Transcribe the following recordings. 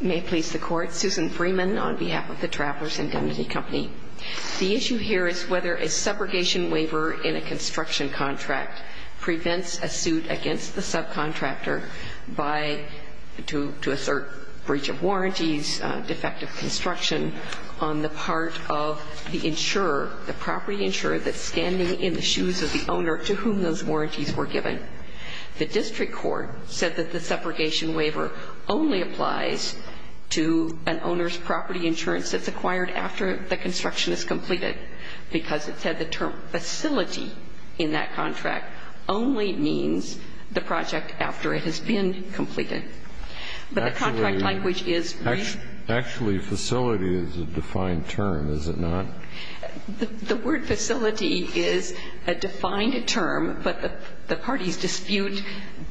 May it please the Court, Susan Freeman on behalf of the Travelers Indemnity Company. The issue here is whether a subrogation waiver in a construction contract prevents a suit against the subcontractor to assert breach of warranties, defective construction on the part of the insurer, the property insurer that's standing in the shoes of the owner to whom those warranties were given. The district court said that the subrogation waiver only applies to an owner's property insurance that's acquired after the construction is completed, because it said the term facility in that contract only means the project after it has been completed. But the contract language is really the same. Actually, facility is a defined term, is it not? The word facility is a defined term, but the parties dispute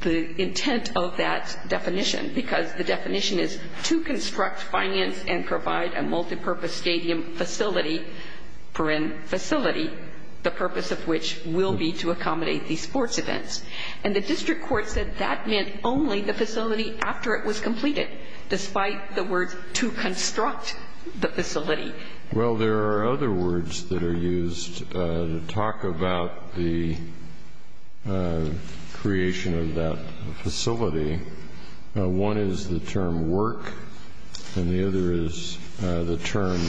the intent of that definition, because the definition is to construct, finance, and provide a multipurpose stadium facility, the purpose of which will be to accommodate these sports events. And the district court said that meant only the facility after it was completed, despite the words to construct the facility. Well, there are other words that are used to talk about the creation of that facility. One is the term work, and the other is the term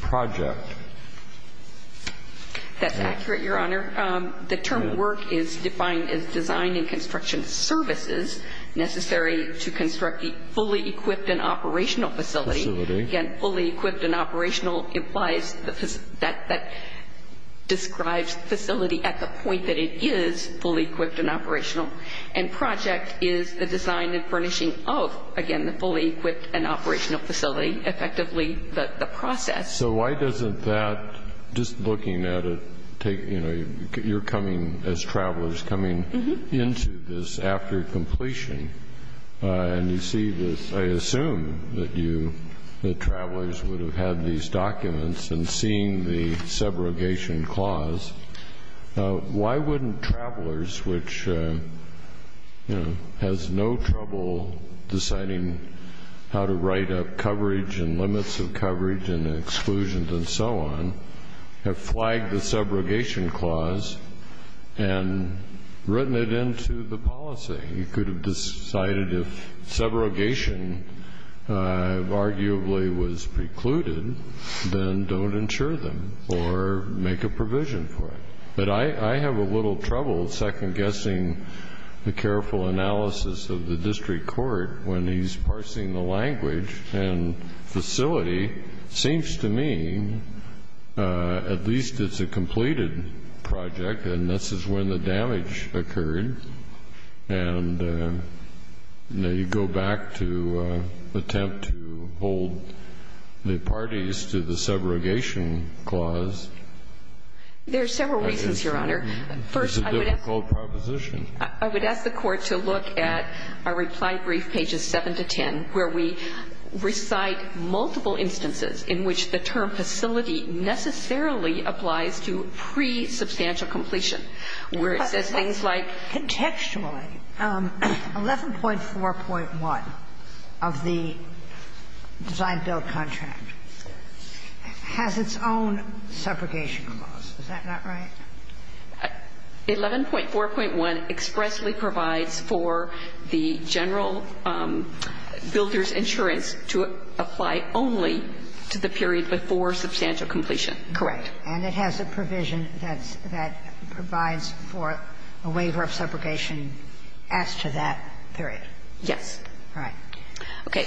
project. That's accurate, Your Honor. The term work is defined as design and construction services necessary to construct a fully equipped and operational facility. Again, fully equipped and operational implies that describes facility at the point that it is fully equipped and operational. And project is the design and furnishing of, again, the fully equipped and operational facility, effectively the process. So why doesn't that, just looking at it, take, you know, you're coming as travelers, coming into this after completion, and you see this, I assume that you, the travelers, would have had these documents and seen the subrogation clause. Why wouldn't travelers, which, you know, has no trouble deciding how to write up coverage and limits of coverage and exclusions and so on, have flagged the subrogation clause and written it into the policy? You could have decided if subrogation arguably was precluded, then don't insure them or make a provision for it. But I have a little trouble second-guessing the careful analysis of the district court when he's parsing the language. And facility seems to me, at least it's a completed project, and this is when the damage occurred. And, you know, you go back to attempt to hold the parties to the subrogation clause. There are several reasons, Your Honor. First, I would ask the court to look at our reply brief page. It's pages 7 to 10, where we recite multiple instances in which the term facility necessarily applies to pre-substantial completion, where it says things like 11.4.1 of the design-build contract has its own subrogation clause. Is that not right? 11.4.1 expressly provides for the general builder's insurance to apply only to the period before substantial completion. Correct. And it has a provision that provides for a waiver of subrogation as to that period. Yes. All right. Okay.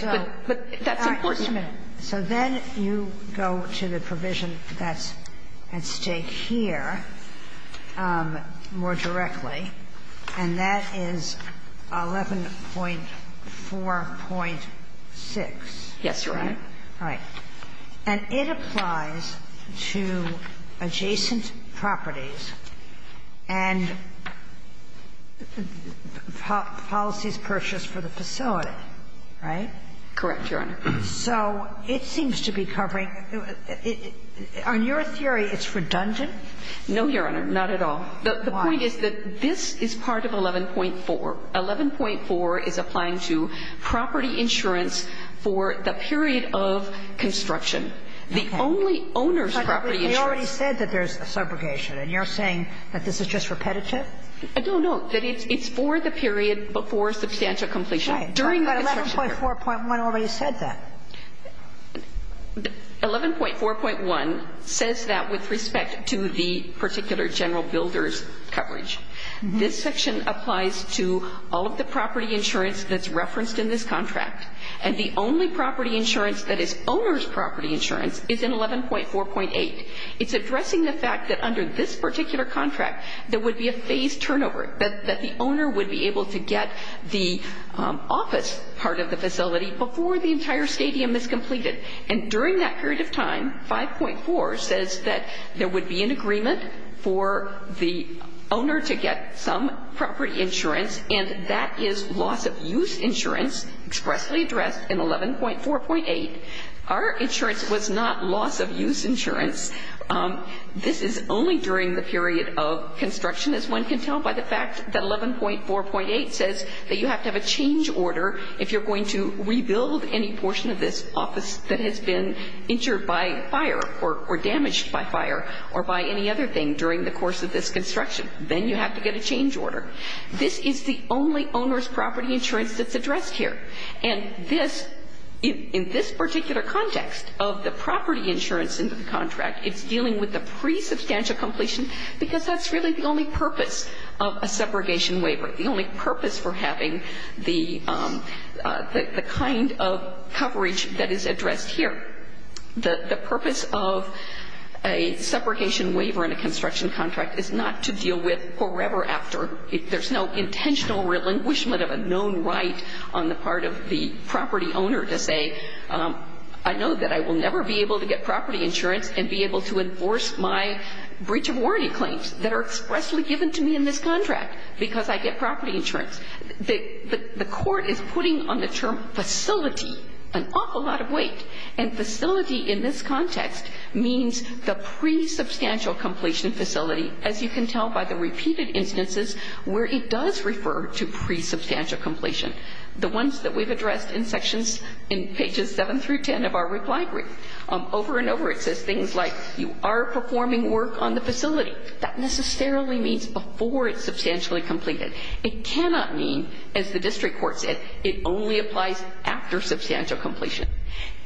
But that's important. Just a minute. So then you go to the provision that's at stake here more directly, and that is 11.4.6. Yes, Your Honor. Right. And it applies to adjacent properties and policies purchased for the facility. Right? Correct, Your Honor. So it seems to be covering – on your theory, it's redundant? No, Your Honor, not at all. Why? The point is that this is part of 11.4. 11.4 is applying to property insurance for the period of construction. Okay. The only owner's property insurance. But they already said that there's a subrogation, and you're saying that this is just repetitive? I don't know. That it's for the period before substantial completion. Right. During the construction period. But 11.4.1 already said that. 11.4.1 says that with respect to the particular general builder's coverage. This section applies to all of the property insurance that's referenced in this contract. And the only property insurance that is owner's property insurance is in 11.4.8. It's addressing the fact that under this particular contract, there would be a phased facility before the entire stadium is completed. And during that period of time, 5.4 says that there would be an agreement for the owner to get some property insurance, and that is loss-of-use insurance, expressly addressed in 11.4.8. Our insurance was not loss-of-use insurance. This is only during the period of construction, as one can tell by the fact that if you're going to rebuild any portion of this office that has been injured by fire or damaged by fire or by any other thing during the course of this construction, then you have to get a change order. This is the only owner's property insurance that's addressed here. And this, in this particular context of the property insurance in the contract, it's dealing with the pre-substantial completion because that's really the only purpose of a separation waiver. The only purpose for having the kind of coverage that is addressed here. The purpose of a separation waiver in a construction contract is not to deal with forever after. There's no intentional relinquishment of a known right on the part of the property owner to say, I know that I will never be able to get property insurance and be able to enforce my breach of warranty claims that are expressly given to me in this property insurance. The court is putting on the term facility an awful lot of weight. And facility in this context means the pre-substantial completion facility, as you can tell by the repeated instances where it does refer to pre-substantial completion. The ones that we've addressed in sections in pages 7 through 10 of our reply brief. Over and over it says things like you are performing work on the facility. That necessarily means before it's substantially completed. It cannot mean, as the district court said, it only applies after substantial completion.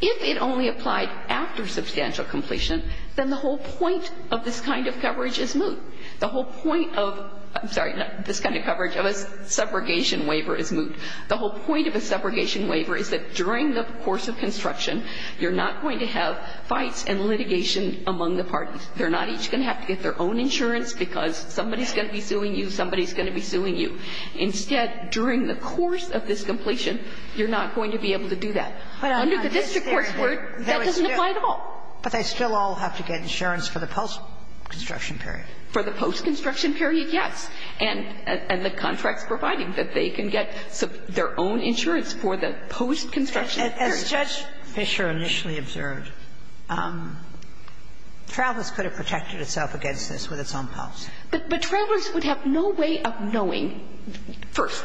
If it only applied after substantial completion, then the whole point of this kind of coverage is moot. The whole point of, I'm sorry, this kind of coverage of a subrogation waiver is moot. The whole point of a subrogation waiver is that during the course of construction you're not going to have fights and litigation among the parties. They're not each going to have to get their own insurance because somebody's going to be suing you. Somebody's going to be suing you. Instead, during the course of this completion, you're not going to be able to do that. Under the district court's word, that doesn't apply at all. But they still all have to get insurance for the post-construction period. For the post-construction period, yes. And the contract's providing that they can get their own insurance for the post-construction period. As Judge Fisher initially observed, Travis could have protected itself against this with its own post. But Travelers would have no way of knowing, first,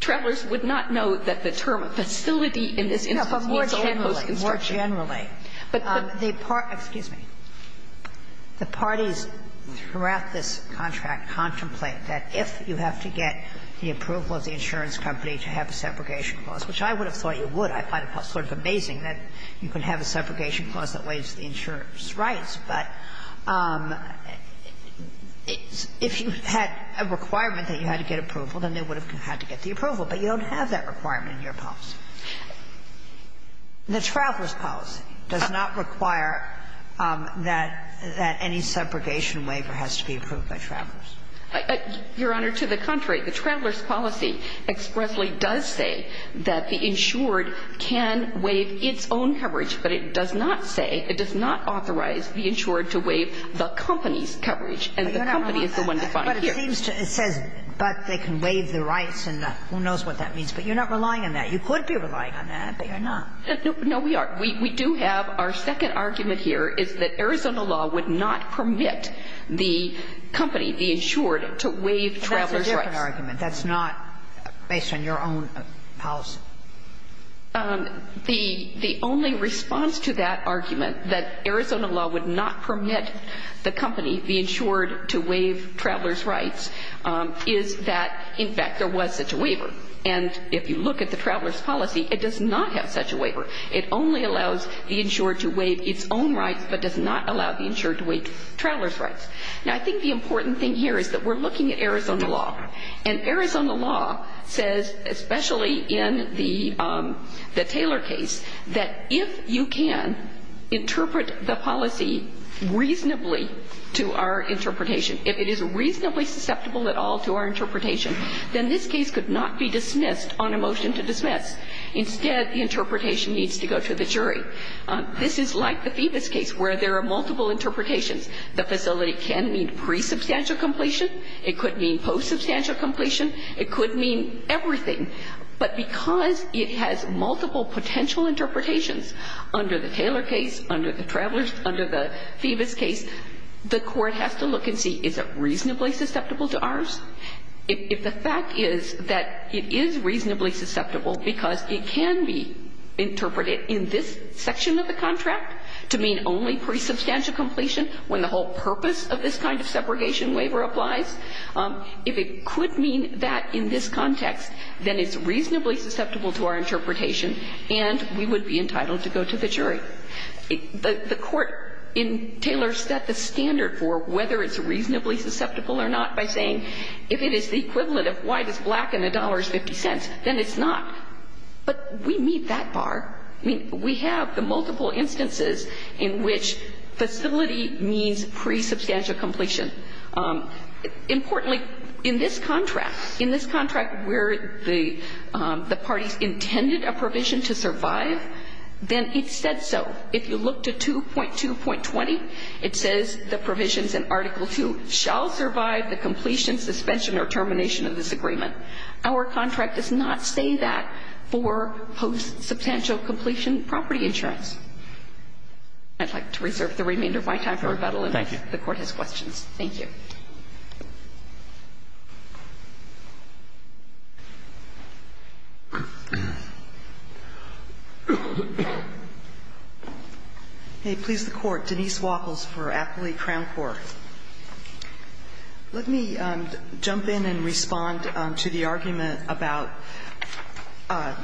Travelers would not know that the term facility in this instance means its own post-construction. But more generally, more generally, the parties, excuse me, the parties throughout this contract contemplate that if you have to get the approval of the insurance company to have a subrogation clause, which I would have thought you would, I find it sort of amazing that you can have a subrogation clause that waives the insurance rights, but if you had a requirement that you had to get approval, then they would have had to get the approval, but you don't have that requirement in your policy. The Travelers policy does not require that any subrogation waiver has to be approved by Travelers. Your Honor, to the contrary. The Travelers policy expressly does say that the insured can waive its own coverage, but it does not say, it does not authorize the insured to waive the company's coverage, and the company is the one defined here. But it seems to say, but they can waive the rights, and who knows what that means. But you're not relying on that. You could be relying on that, but you're not. No, we are. We do have our second argument here is that Arizona law would not permit the company, the insured, to waive Travelers' rights. That's a different argument. That's not based on your own policy. The only response to that argument, that Arizona law would not permit the company, the insured, to waive Travelers' rights, is that, in fact, there was such a waiver. And if you look at the Travelers policy, it does not have such a waiver. It only allows the insured to waive its own rights, but does not allow the insured to waive Travelers' rights. Now, I think the important thing here is that we're looking at Arizona law, and Arizona law says, especially in the Taylor case, that if you can interpret the policy reasonably to our interpretation, if it is reasonably susceptible at all to our interpretation, then this case could not be dismissed on a motion to dismiss. Instead, the interpretation needs to go to the jury. This is like the Phoebus case, where there are multiple interpretations. The facility can mean pre-substantial completion. It could mean post-substantial completion. It could mean everything. But because it has multiple potential interpretations under the Taylor case, under the Travelers, under the Phoebus case, the court has to look and see, is it reasonably susceptible to ours? If the fact is that it is reasonably susceptible because it can be interpreted in this section of the contract to mean only pre-substantial completion when the whole purpose of this kind of separation waiver applies, if it could mean that in this context, then it's reasonably susceptible to our interpretation, and we would be entitled to go to the jury. The court in Taylor set the standard for whether it's reasonably susceptible or not by saying, if it is the equivalent of white is black and the dollar is 50 cents, then it's not. But we meet that bar. I mean, we have the multiple instances in which facility means pre-substantial completion. Importantly, in this contract, in this contract where the parties intended a provision to survive, then it said so. If you look to 2.2.20, it says the provisions in Article II shall survive the completion, suspension, or termination of this agreement. Our contract does not say that for post-substantial completion property insurance. I'd like to reserve the remainder of my time for rebuttal, and if the Court has questions. Thank you. May it please the Court. Denise Walkles for Appley Crown Court. Let me jump in and respond to the argument about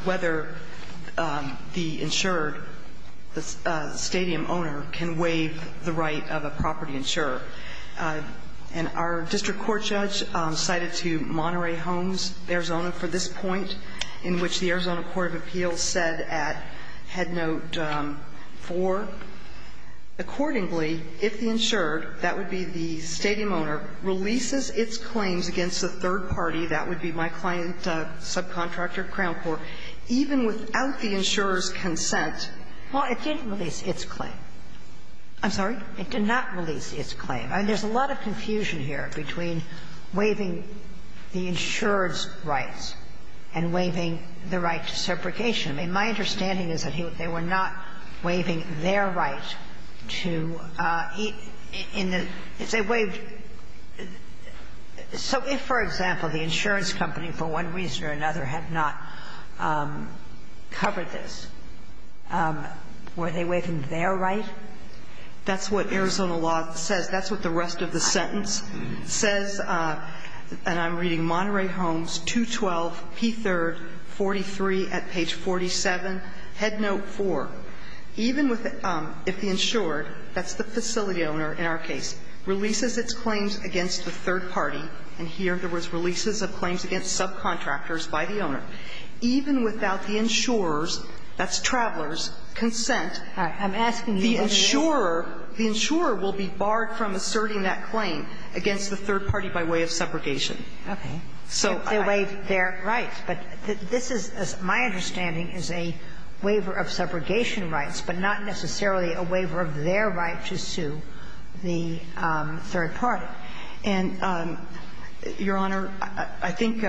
whether the insured, the stadium owner, can waive the right of a property insurer. And our district court judge cited to Monterey Homes, Arizona, for this point, in which the Arizona court of appeals said at Headnote 4, accordingly, if the insured, that would be the stadium owner, releases its claims against the third party, that would be my client, subcontractor, Crown Court, even without the insurer's consent Well, it didn't release its claim. I'm sorry? It did not release its claim. I mean, there's a lot of confusion here between waiving the insurer's rights and waiving the right to separation. I mean, my understanding is that they were not waiving their right to eat in the they waived. So if, for example, the insurance company, for one reason or another, had not covered this, were they waiving their right? That's what Arizona law says. That's what the rest of the sentence says. And I'm reading Monterey Homes, 212 P. 3rd, 43 at page 47, Headnote 4. Even if the insured, that's the facility owner in our case, releases its claims against the third party, and here there was releases of claims against subcontractors by the owner, even without the insurer's, that's Traveler's, consent, the insurer will be barred from asserting that claim against the third party by way of separation. Okay. They waived their rights. But this is, as my understanding, is a waiver of separation rights, but not necessarily a waiver of their right to sue the third party. And, Your Honor, I think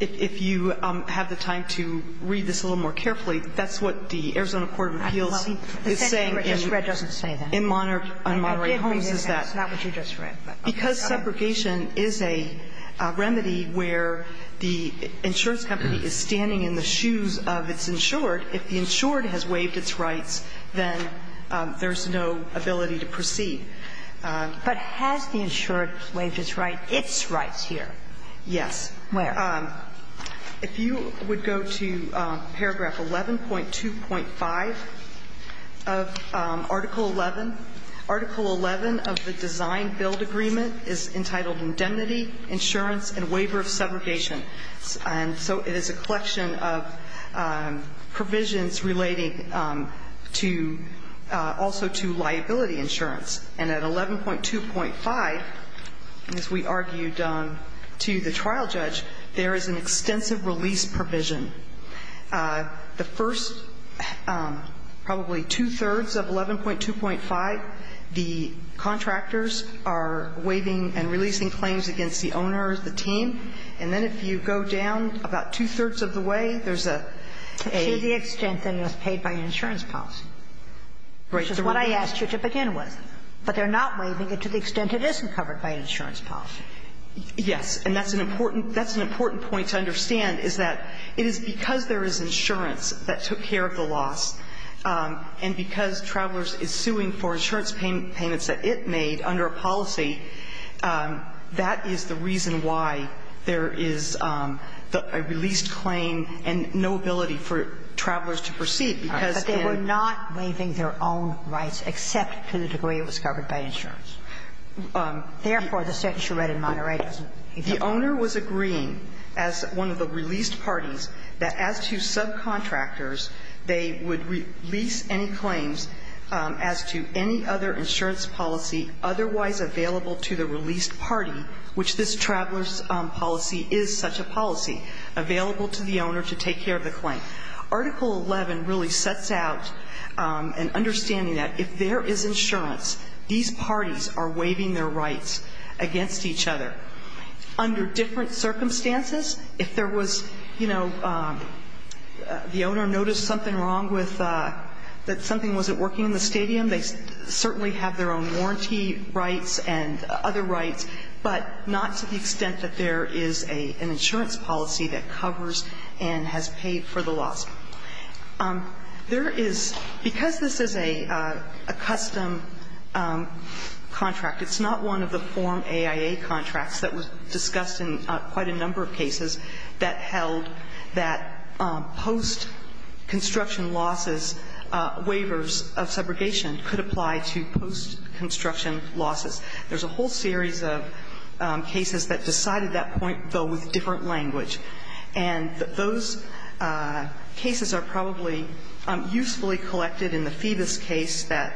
if you have the time to read this a little more carefully, that's what the Arizona Court of Appeals is saying in Monterey Homes is that because separation is a remedy where the insurance company is standing in the shoes of its insured, if the insured has waived its rights, then there's no ability to proceed. But has the insured waived its rights here? Yes. Where? If you would go to paragraph 11.2.5 of Article 11, Article 11 of the Design-Build Agreement is entitled Indemnity, Insurance, and Waiver of Segregation. And so it is a collection of provisions relating to also to liability insurance. And at 11.2.5, as we argued to the trial judge, there is an extensive release provision. The first probably two-thirds of 11.2.5, the contractors are waiving and releasing claims against the owner, the team. And then if you go down about two-thirds of the way, there's a aid. To the extent that it was paid by insurance policy, which is what I asked you to begin with. But they're not waiving it to the extent it isn't covered by insurance policy. Yes. And that's an important point to understand, is that it is because there is insurance that took care of the loss, and because Travelers is suing for insurance payments that it made under a policy, that is the reason why there is a released claim and no ability for Travelers to proceed, because then they were not waiving their own rights, except to the degree it was covered by insurance. Therefore, the section read in Monterey doesn't give you that. The owner was agreeing, as one of the released parties, that as to subcontractors, they would release any claims as to any other insurance policy otherwise available to the released party, which this Travelers policy is such a policy, available to the owner to take care of the claim. Article 11 really sets out an understanding that if there is insurance, these parties are waiving their rights against each other under different circumstances. If there was, you know, the owner noticed something wrong with, that something wasn't working in the stadium, they certainly have their own warranty rights and other rights, but not to the extent that there is an insurance policy that covers and has paid for the loss. There is, because this is a custom contract, it's not one of the form AIA contracts that was discussed in quite a number of cases that held that post-construction losses, waivers of subrogation could apply to post-construction losses. There's a whole series of cases that decided that point, though, with different language, and those cases are probably usefully collected in the Phoebus case that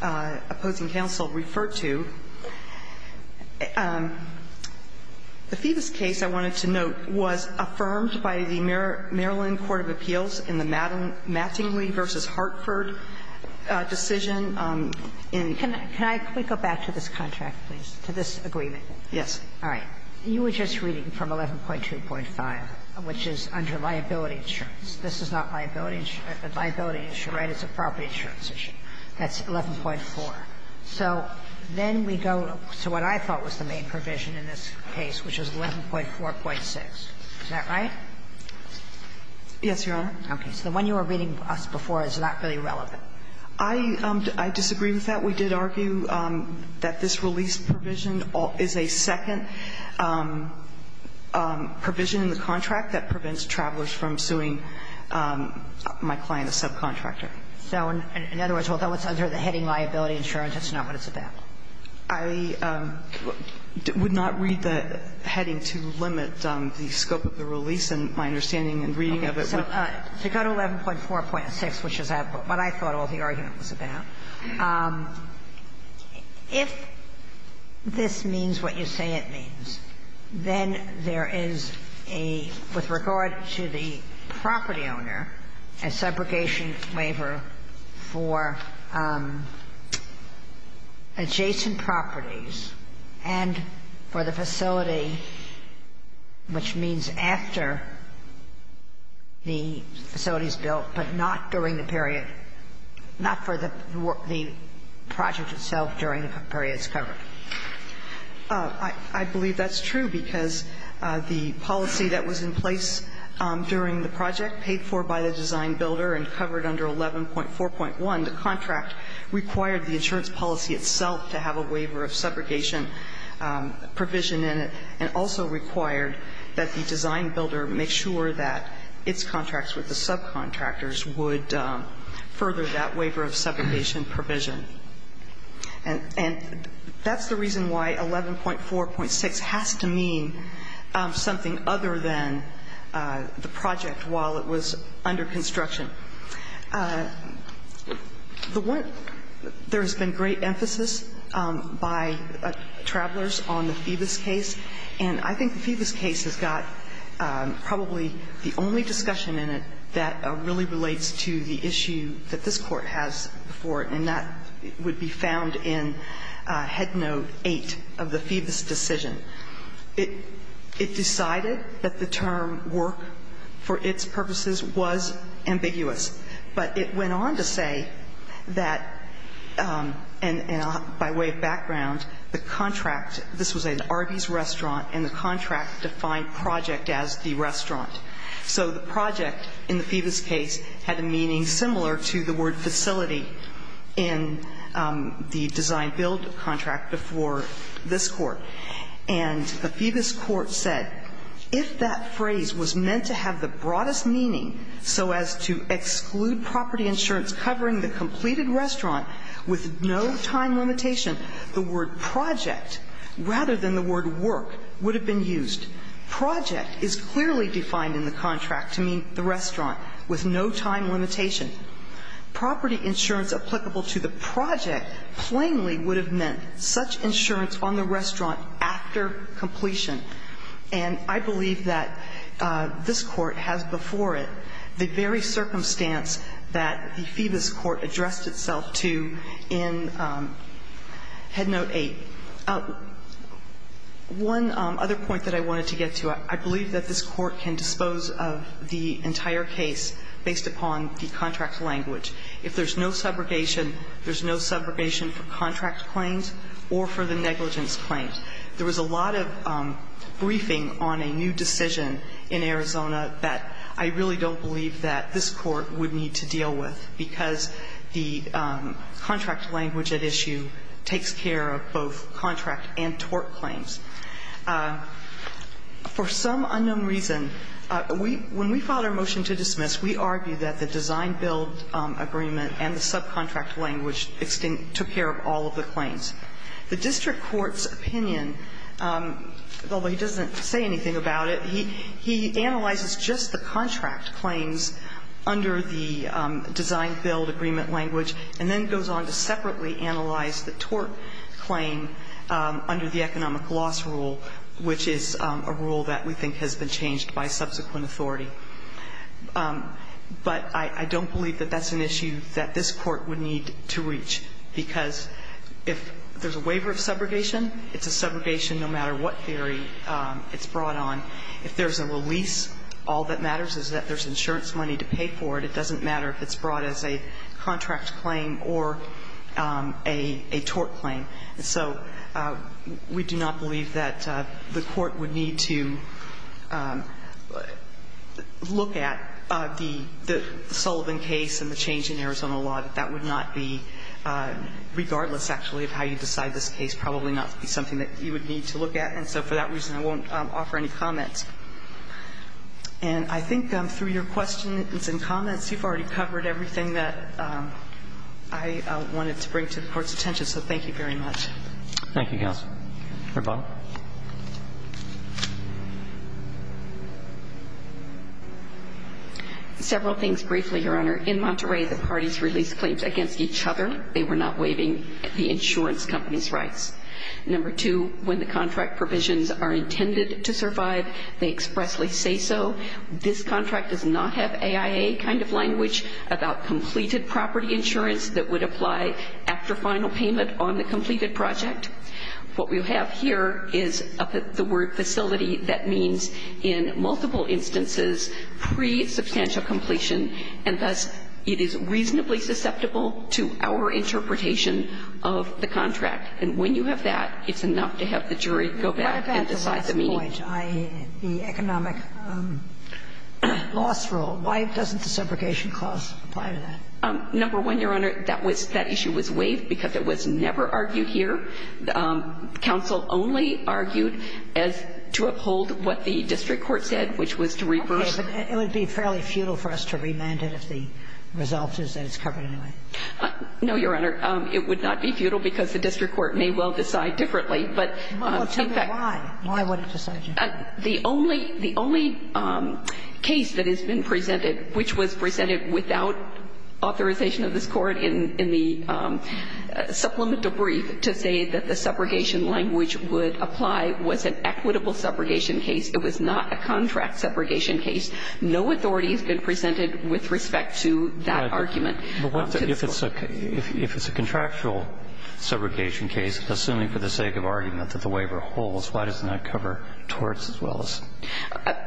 opposing counsel referred to. The Phoebus case, I wanted to note, was affirmed by the Maryland Court of Appeals in the Mattingly v. Hartford decision in the 1980s. Ginsburg. Can I quickly go back to this contract, please, to this agreement? Yes. All right. You were just reading from 11.2.5, which is under liability insurance. This is not a liability insurance issue, right? It's a property insurance issue. That's 11.4. So then we go to what I thought was the main provision in this case, which is 11.4.6. Is that right? Yes, Your Honor. Okay. So the one you were reading us before is not really relevant. I disagree with that. We did argue that this release provision is a second provision in the contract that prevents travelers from suing my client, a subcontractor. So in other words, although it's under the heading liability insurance, that's not what it's about? I would not read the heading to limit the scope of the release, and my understanding in reading of it would not. To go to 11.4.6, which is what I thought all the argument was about, if this means what you say it means, then there is a, with regard to the property owner, a separation waiver for adjacent properties and for the facility, which means after the facility is built, but not during the period, not for the project itself during the period it's covered. I believe that's true because the policy that was in place during the project, paid for by the design builder and covered under 11.4.1, the contract required the insurance policy itself to have a waiver of subrogation provision in it and also required that the design builder make sure that its contracts with the subcontractors would further that waiver of subrogation provision. And that's the reason why 11.4.6 has to mean something other than the project while it was under construction. There has been great emphasis by Travelers on the Phoebus case, and I think the Phoebus case has got probably the only discussion in it that really relates to the issue that this Court has before it, and that would be found in Head Note 8 of the Phoebus decision. It decided that the term work for its purposes was ambiguous, but it went on to say that, and by way of background, the contract, this was an Arby's restaurant, and the contract defined project as the restaurant. So the project in the Phoebus case had a meaning similar to the word facility in the design build contract before this Court. And the Phoebus Court said, if that phrase was meant to have the broadest meaning so as to exclude property insurance covering the completed restaurant with no time limitation, the word project, rather than the word work, would have been used. Project is clearly defined in the contract to mean the restaurant with no time limitation. Property insurance applicable to the project plainly would have meant such insurance on the restaurant after completion. And I believe that this Court has before it the very circumstance that the Phoebus Court addressed itself to in Head Note 8. One other point that I wanted to get to, I believe that this Court can dispose of the entire case based upon the contract language. If there's no subrogation, there's no subrogation for contract claims or for the negligence claims. There was a lot of briefing on a new decision in Arizona that I really don't believe that this Court would need to deal with, because the contract language at issue takes care of both contract and tort claims. For some unknown reason, when we filed our motion to dismiss, we argued that the design-build agreement and the subcontract language took care of all of the claims. The district court's opinion, although he doesn't say anything about it, he analyzes just the contract claims under the design-build agreement language and then goes on to separately analyze the tort claim under the economic loss rule, which is a rule that we think has been changed by subsequent authority. But I don't believe that that's an issue that this Court would need to reach, because if there's a waiver of subrogation, it's a subrogation no matter what theory it's brought on. If there's a release, all that matters is that there's insurance money to pay for it. It doesn't matter if it's brought as a contract claim or a tort claim. So we do not believe that the Court would need to look at the Sullivan case and the change in Arizona law, that that would not be, regardless, actually, of how you decide this case, probably not be something that you would need to look at. And so for that reason, I won't offer any comments. And I think through your questions and comments, you've already covered everything that I wanted to bring to the Court's attention. So thank you very much. Thank you, Counsel. Ms. Bobb. Several things briefly, Your Honor. In Monterey, the parties released claims against each other. They were not waiving the insurance company's rights. Number two, when the contract provisions are intended to survive, they expressly say so. This contract does not have AIA kind of language about completed property insurance that would apply after final payment on the completed project. What we have here is the word facility. That means in multiple instances pre-substantial completion, and thus it is reasonably susceptible to our interpretation of the contract. And when you have that, it's enough to have the jury go back and decide the meaning. What about the last point, the economic loss rule? Why doesn't the separation clause apply to that? Number one, Your Honor, that issue was waived because it was never argued here. Counsel only argued as to uphold what the district court said, which was to reimburse. Okay. But it would be fairly futile for us to remand it if the result is that it's covered anyway. No, Your Honor. It would not be futile because the district court may well decide differently. But in fact why? Why would it decide differently? The only case that has been presented, which was presented without authorization of this Court in the supplemental brief to say that the subrogation language would apply, was an equitable subrogation case. It was not a contract subrogation case. No authority has been presented with respect to that argument. But if it's a contractual subrogation case, assuming for the sake of argument that the waiver holds, why doesn't that cover torts as well as?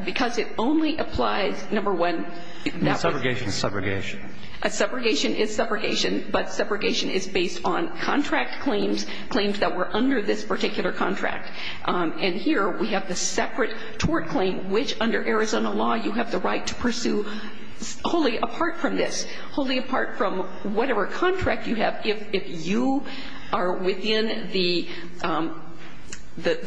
Because it only applies, number one, that way. Subrogation is subrogation. Subrogation is subrogation, but subrogation is based on contract claims, claims that were under this particular contract. And here we have the separate tort claim, which under Arizona law you have the right to pursue wholly apart from this. Wholly apart from whatever contract you have, if you are within the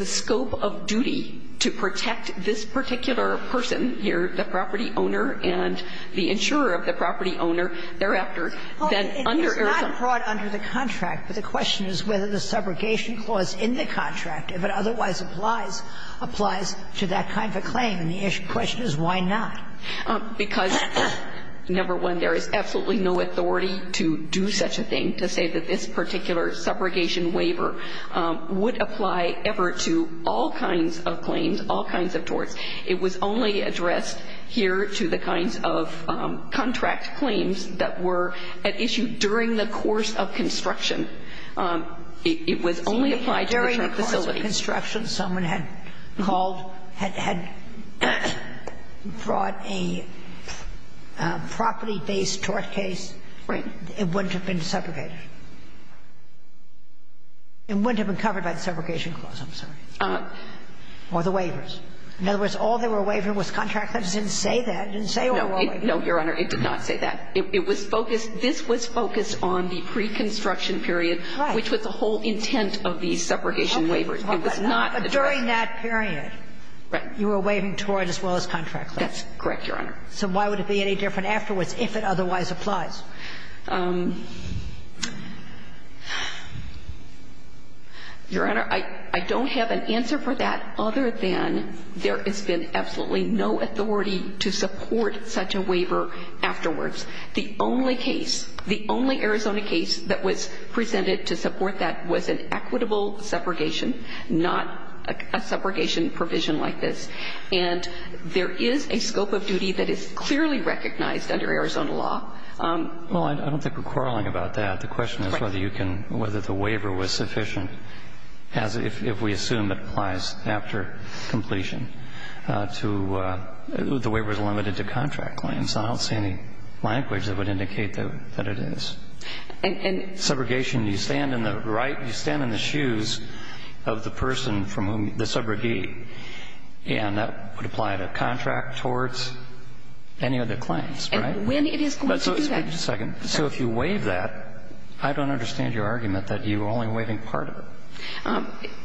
scope of duty to protect this particular person here, the property owner and the insurer of the property owner, thereafter, then under Arizona. It's not brought under the contract, but the question is whether the subrogation clause in the contract, if it otherwise applies, applies to that kind of a claim. And the question is why not? Because, number one, there is absolutely no authority to do such a thing, to say that this particular subrogation waiver would apply ever to all kinds of claims, all kinds of torts. It was only addressed here to the kinds of contract claims that were at issue during the course of construction. It was only applied to the tort facility. But if it was a case of preconstruction, someone had called, had brought a property-based tort case, it wouldn't have been subrogated. It wouldn't have been covered by the subrogation clause, I'm sorry. Or the waivers. In other words, all they were waiving was contract claims. It didn't say that. It didn't say all of it. No, Your Honor. It did not say that. It was focused, this was focused on the preconstruction period, which was the whole intent of the subrogation waiver. It was not addressed. Okay. But during that period, you were waiving tort as well as contract claims. That's correct, Your Honor. So why would it be any different afterwards if it otherwise applies? Your Honor, I don't have an answer for that other than there has been absolutely no authority to support such a waiver afterwards. The only case, the only Arizona case that was presented to support that was an equitable subrogation, not a subrogation provision like this. And there is a scope of duty that is clearly recognized under Arizona law. Well, I don't think we're quarreling about that. The question is whether you can, whether the waiver was sufficient, as if we assume it applies after completion, to the waiver is limited to contract claims. I don't see any language that would indicate that it is. And subrogation, you stand in the right, you stand in the shoes of the person from whom the subrogate, and that would apply to contract torts, any of the claims, right? And when it is going to do that. Just a second. So if you waive that, I don't understand your argument that you are only waiving part of it.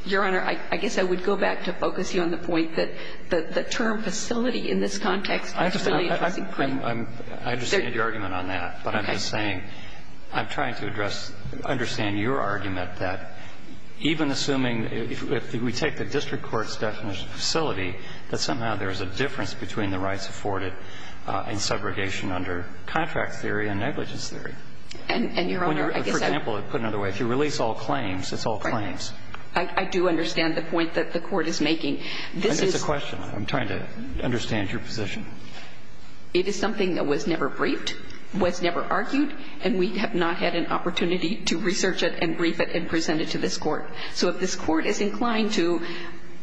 Your Honor, I guess I would go back to focus you on the point that the term facility in this context is a really interesting point. I understand your argument on that. But I'm just saying, I'm trying to address, understand your argument that even assuming if we take the district court's definition of facility, that somehow there is a difference between the rights afforded in subrogation under contract theory and negligence theory. And, Your Honor, I guess I would put it another way. If you release all claims, it's all claims. Right. I do understand the point that the Court is making. This is a question. I'm trying to understand your position. It is something that was never briefed, was never argued, and we have not had an opportunity to research it and brief it and present it to this Court. So if this Court is inclined to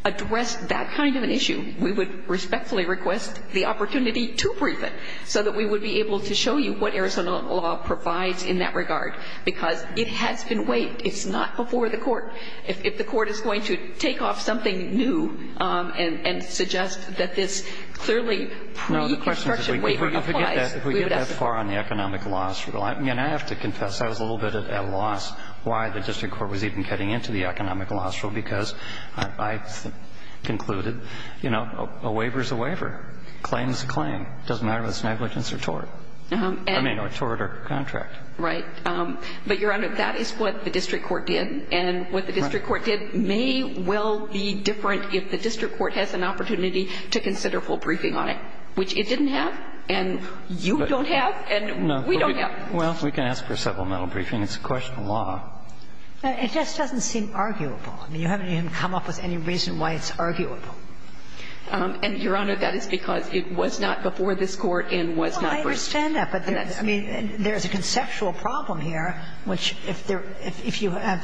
address that kind of an issue, we would respectfully request the opportunity to brief it so that we would be able to show you what Arizona law provides in that regard, because it has been waived. It's not before the Court. If the Court is going to take off something new and suggest that this clearly pre-construction waiver applies, we would ask it. No, the question is, if we get that far on the economic law, I mean, I have to confess, I was a little bit at a loss why the district court was even getting into the economic law because I concluded, you know, a waiver is a waiver. Claim is a claim. It doesn't matter whether it's negligence or tort. I mean, or tort or contract. Right. But, Your Honor, that is what the district court did, and what the district court did may well be different if the district court has an opportunity to consider full briefing on it, which it didn't have and you don't have and we don't have. No. Well, we can ask for supplemental briefing. It's a question of law. It just doesn't seem arguable. I mean, you haven't even come up with any reason why it's arguable. And, Your Honor, that is because it was not before this Court and was not before And so I don't understand that. But, I mean, there's a conceptual problem here, which if there – if you have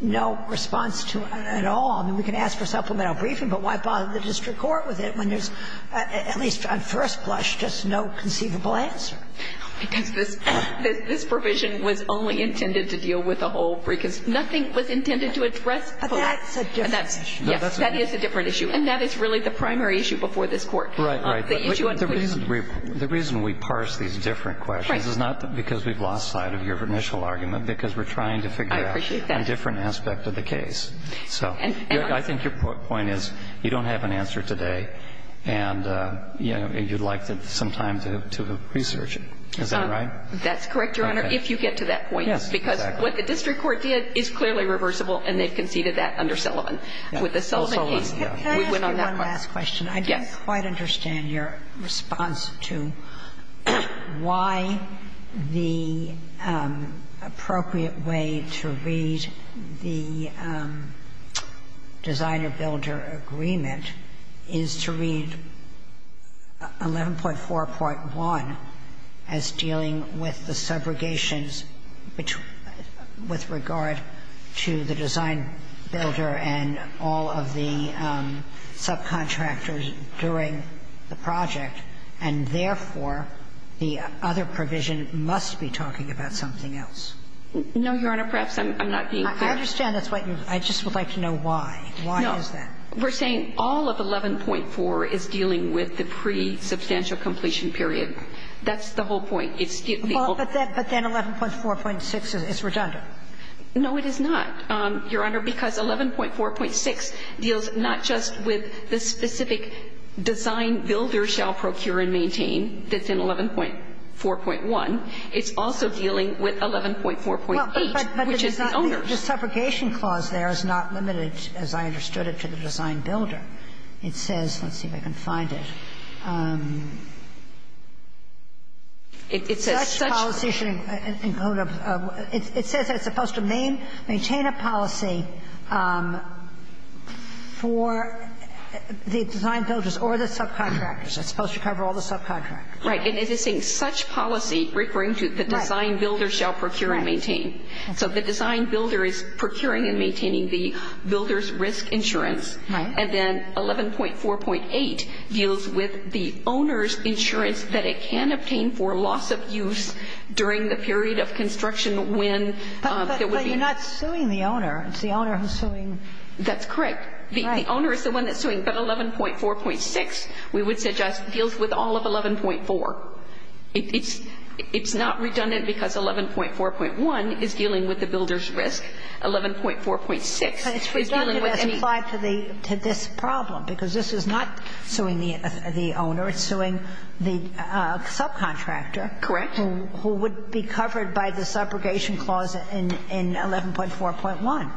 no response to it at all, we can ask for supplemental briefing, but why bother the district court with it when there's, at least on first blush, just no conceivable answer? Because this provision was only intended to deal with the whole briefing. Nothing was intended to address the lack. But that's a different issue. Yes. That is a different issue. And that is really the primary issue before this Court. Right, right. But the reason we parse these different questions is not because we've lost sight of your initial argument, because we're trying to figure out a different aspect of the case. So, I think your point is you don't have an answer today and, you know, you'd like some time to research it. Is that right? That's correct, Your Honor, if you get to that point. Yes, exactly. Because what the district court did is clearly reversible and they've conceded that under Sullivan. With the Sullivan case, though, we're not that far. Can I ask you one last question? Yes. I don't quite understand your response to why the appropriate way to read the designer-builder agreement is to read 11.4.1 as dealing with the subrogations with regard to the design builder and all of the subcontractors during the project, and therefore, the other provision must be talking about something else. No, Your Honor. Perhaps I'm not being clear. I understand. I just would like to know why. Why is that? No. We're saying all of 11.4 is dealing with the pre-substantial completion period. That's the whole point. But then 11.4.6 is redundant. No, it is not. Your Honor, because 11.4.6 deals not just with the specific design-builder shall procure and maintain that's in 11.4.1. It's also dealing with 11.4.8, which is the owner. Well, but the subrogation clause there is not limited, as I understood it, to the design-builder. It says, let's see if I can find it. It says such policy should include a – it says it's supposed to maintain a policy for the design-builders or the subcontractors. It's supposed to cover all the subcontractors. Right. And it is saying such policy referring to the design-builder shall procure and maintain. So the design-builder is procuring and maintaining the builder's risk insurance. And then 11.4.8 deals with the owner's insurance that it can obtain for loss of use during the period of construction when there would be – But you're not suing the owner. It's the owner who's suing. That's correct. Right. The owner is the one that's suing. But 11.4.6, we would suggest, deals with all of 11.4. It's not redundant because 11.4.1 is dealing with the builder's risk. 11.4.6 is dealing with any – But it's redundant as implied to this problem, because this is not suing the owner. It's suing the subcontractor. Correct. Who would be covered by the subrogation clause in 11.4.1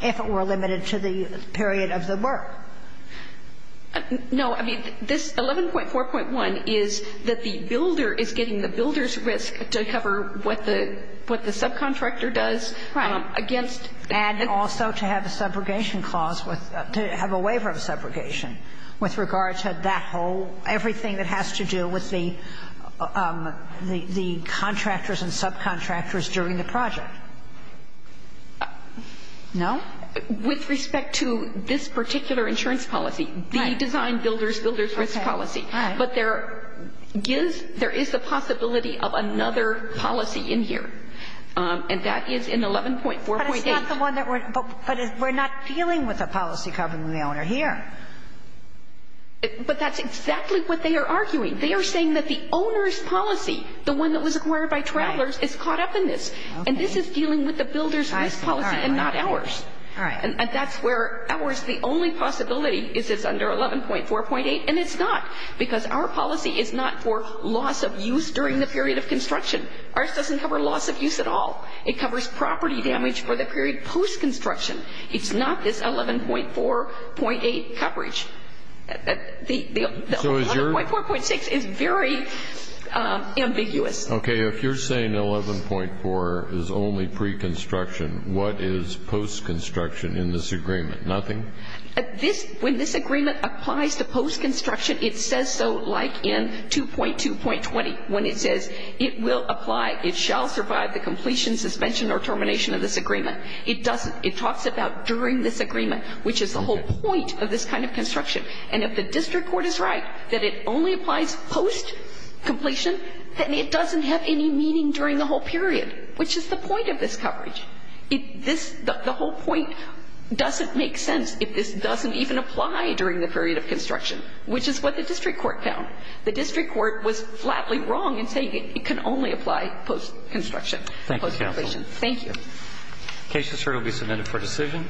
if it were limited to the period of the work. No. I mean, this 11.4.1 is that the builder is getting the builder's risk to cover what the subcontractor does. And also to have a subrogation clause with – to have a waiver of subrogation with regard to that whole – everything that has to do with the contractors and subcontractors during the project. No? With respect to this particular insurance policy, the design builder's builder's risk policy. Right. But there is the possibility of another policy in here. And that is in 11.4.8. But it's not the one that we're – but we're not dealing with a policy covering the owner here. But that's exactly what they are arguing. They are saying that the owner's policy, the one that was acquired by Travelers, is caught up in this. And this is dealing with the builder's risk policy and not ours. All right. And that's where ours – the only possibility is it's under 11.4.8, and it's not. Because our policy is not for loss of use during the period of construction. Ours doesn't cover loss of use at all. It covers property damage for the period post-construction. It's not this 11.4.8 coverage. The 11.4.6 is very ambiguous. Okay. If you're saying 11.4 is only pre-construction, what is post-construction in this agreement? Nothing? This – when this agreement applies to post-construction, it says so like in 2.2.20 when it says it will apply, it shall survive the completion, suspension, or termination of this agreement. It doesn't. It talks about during this agreement, which is the whole point of this kind of construction. And if the district court is right that it only applies post-completion, then it doesn't have any meaning during the whole period, which is the point of this coverage. The whole point doesn't make sense if this doesn't even apply during the period of construction, which is what the district court found. The district court was flatly wrong in saying it can only apply post-construction, post-completion. Thank you, counsel. Thank you. The case is currently submitted for decision.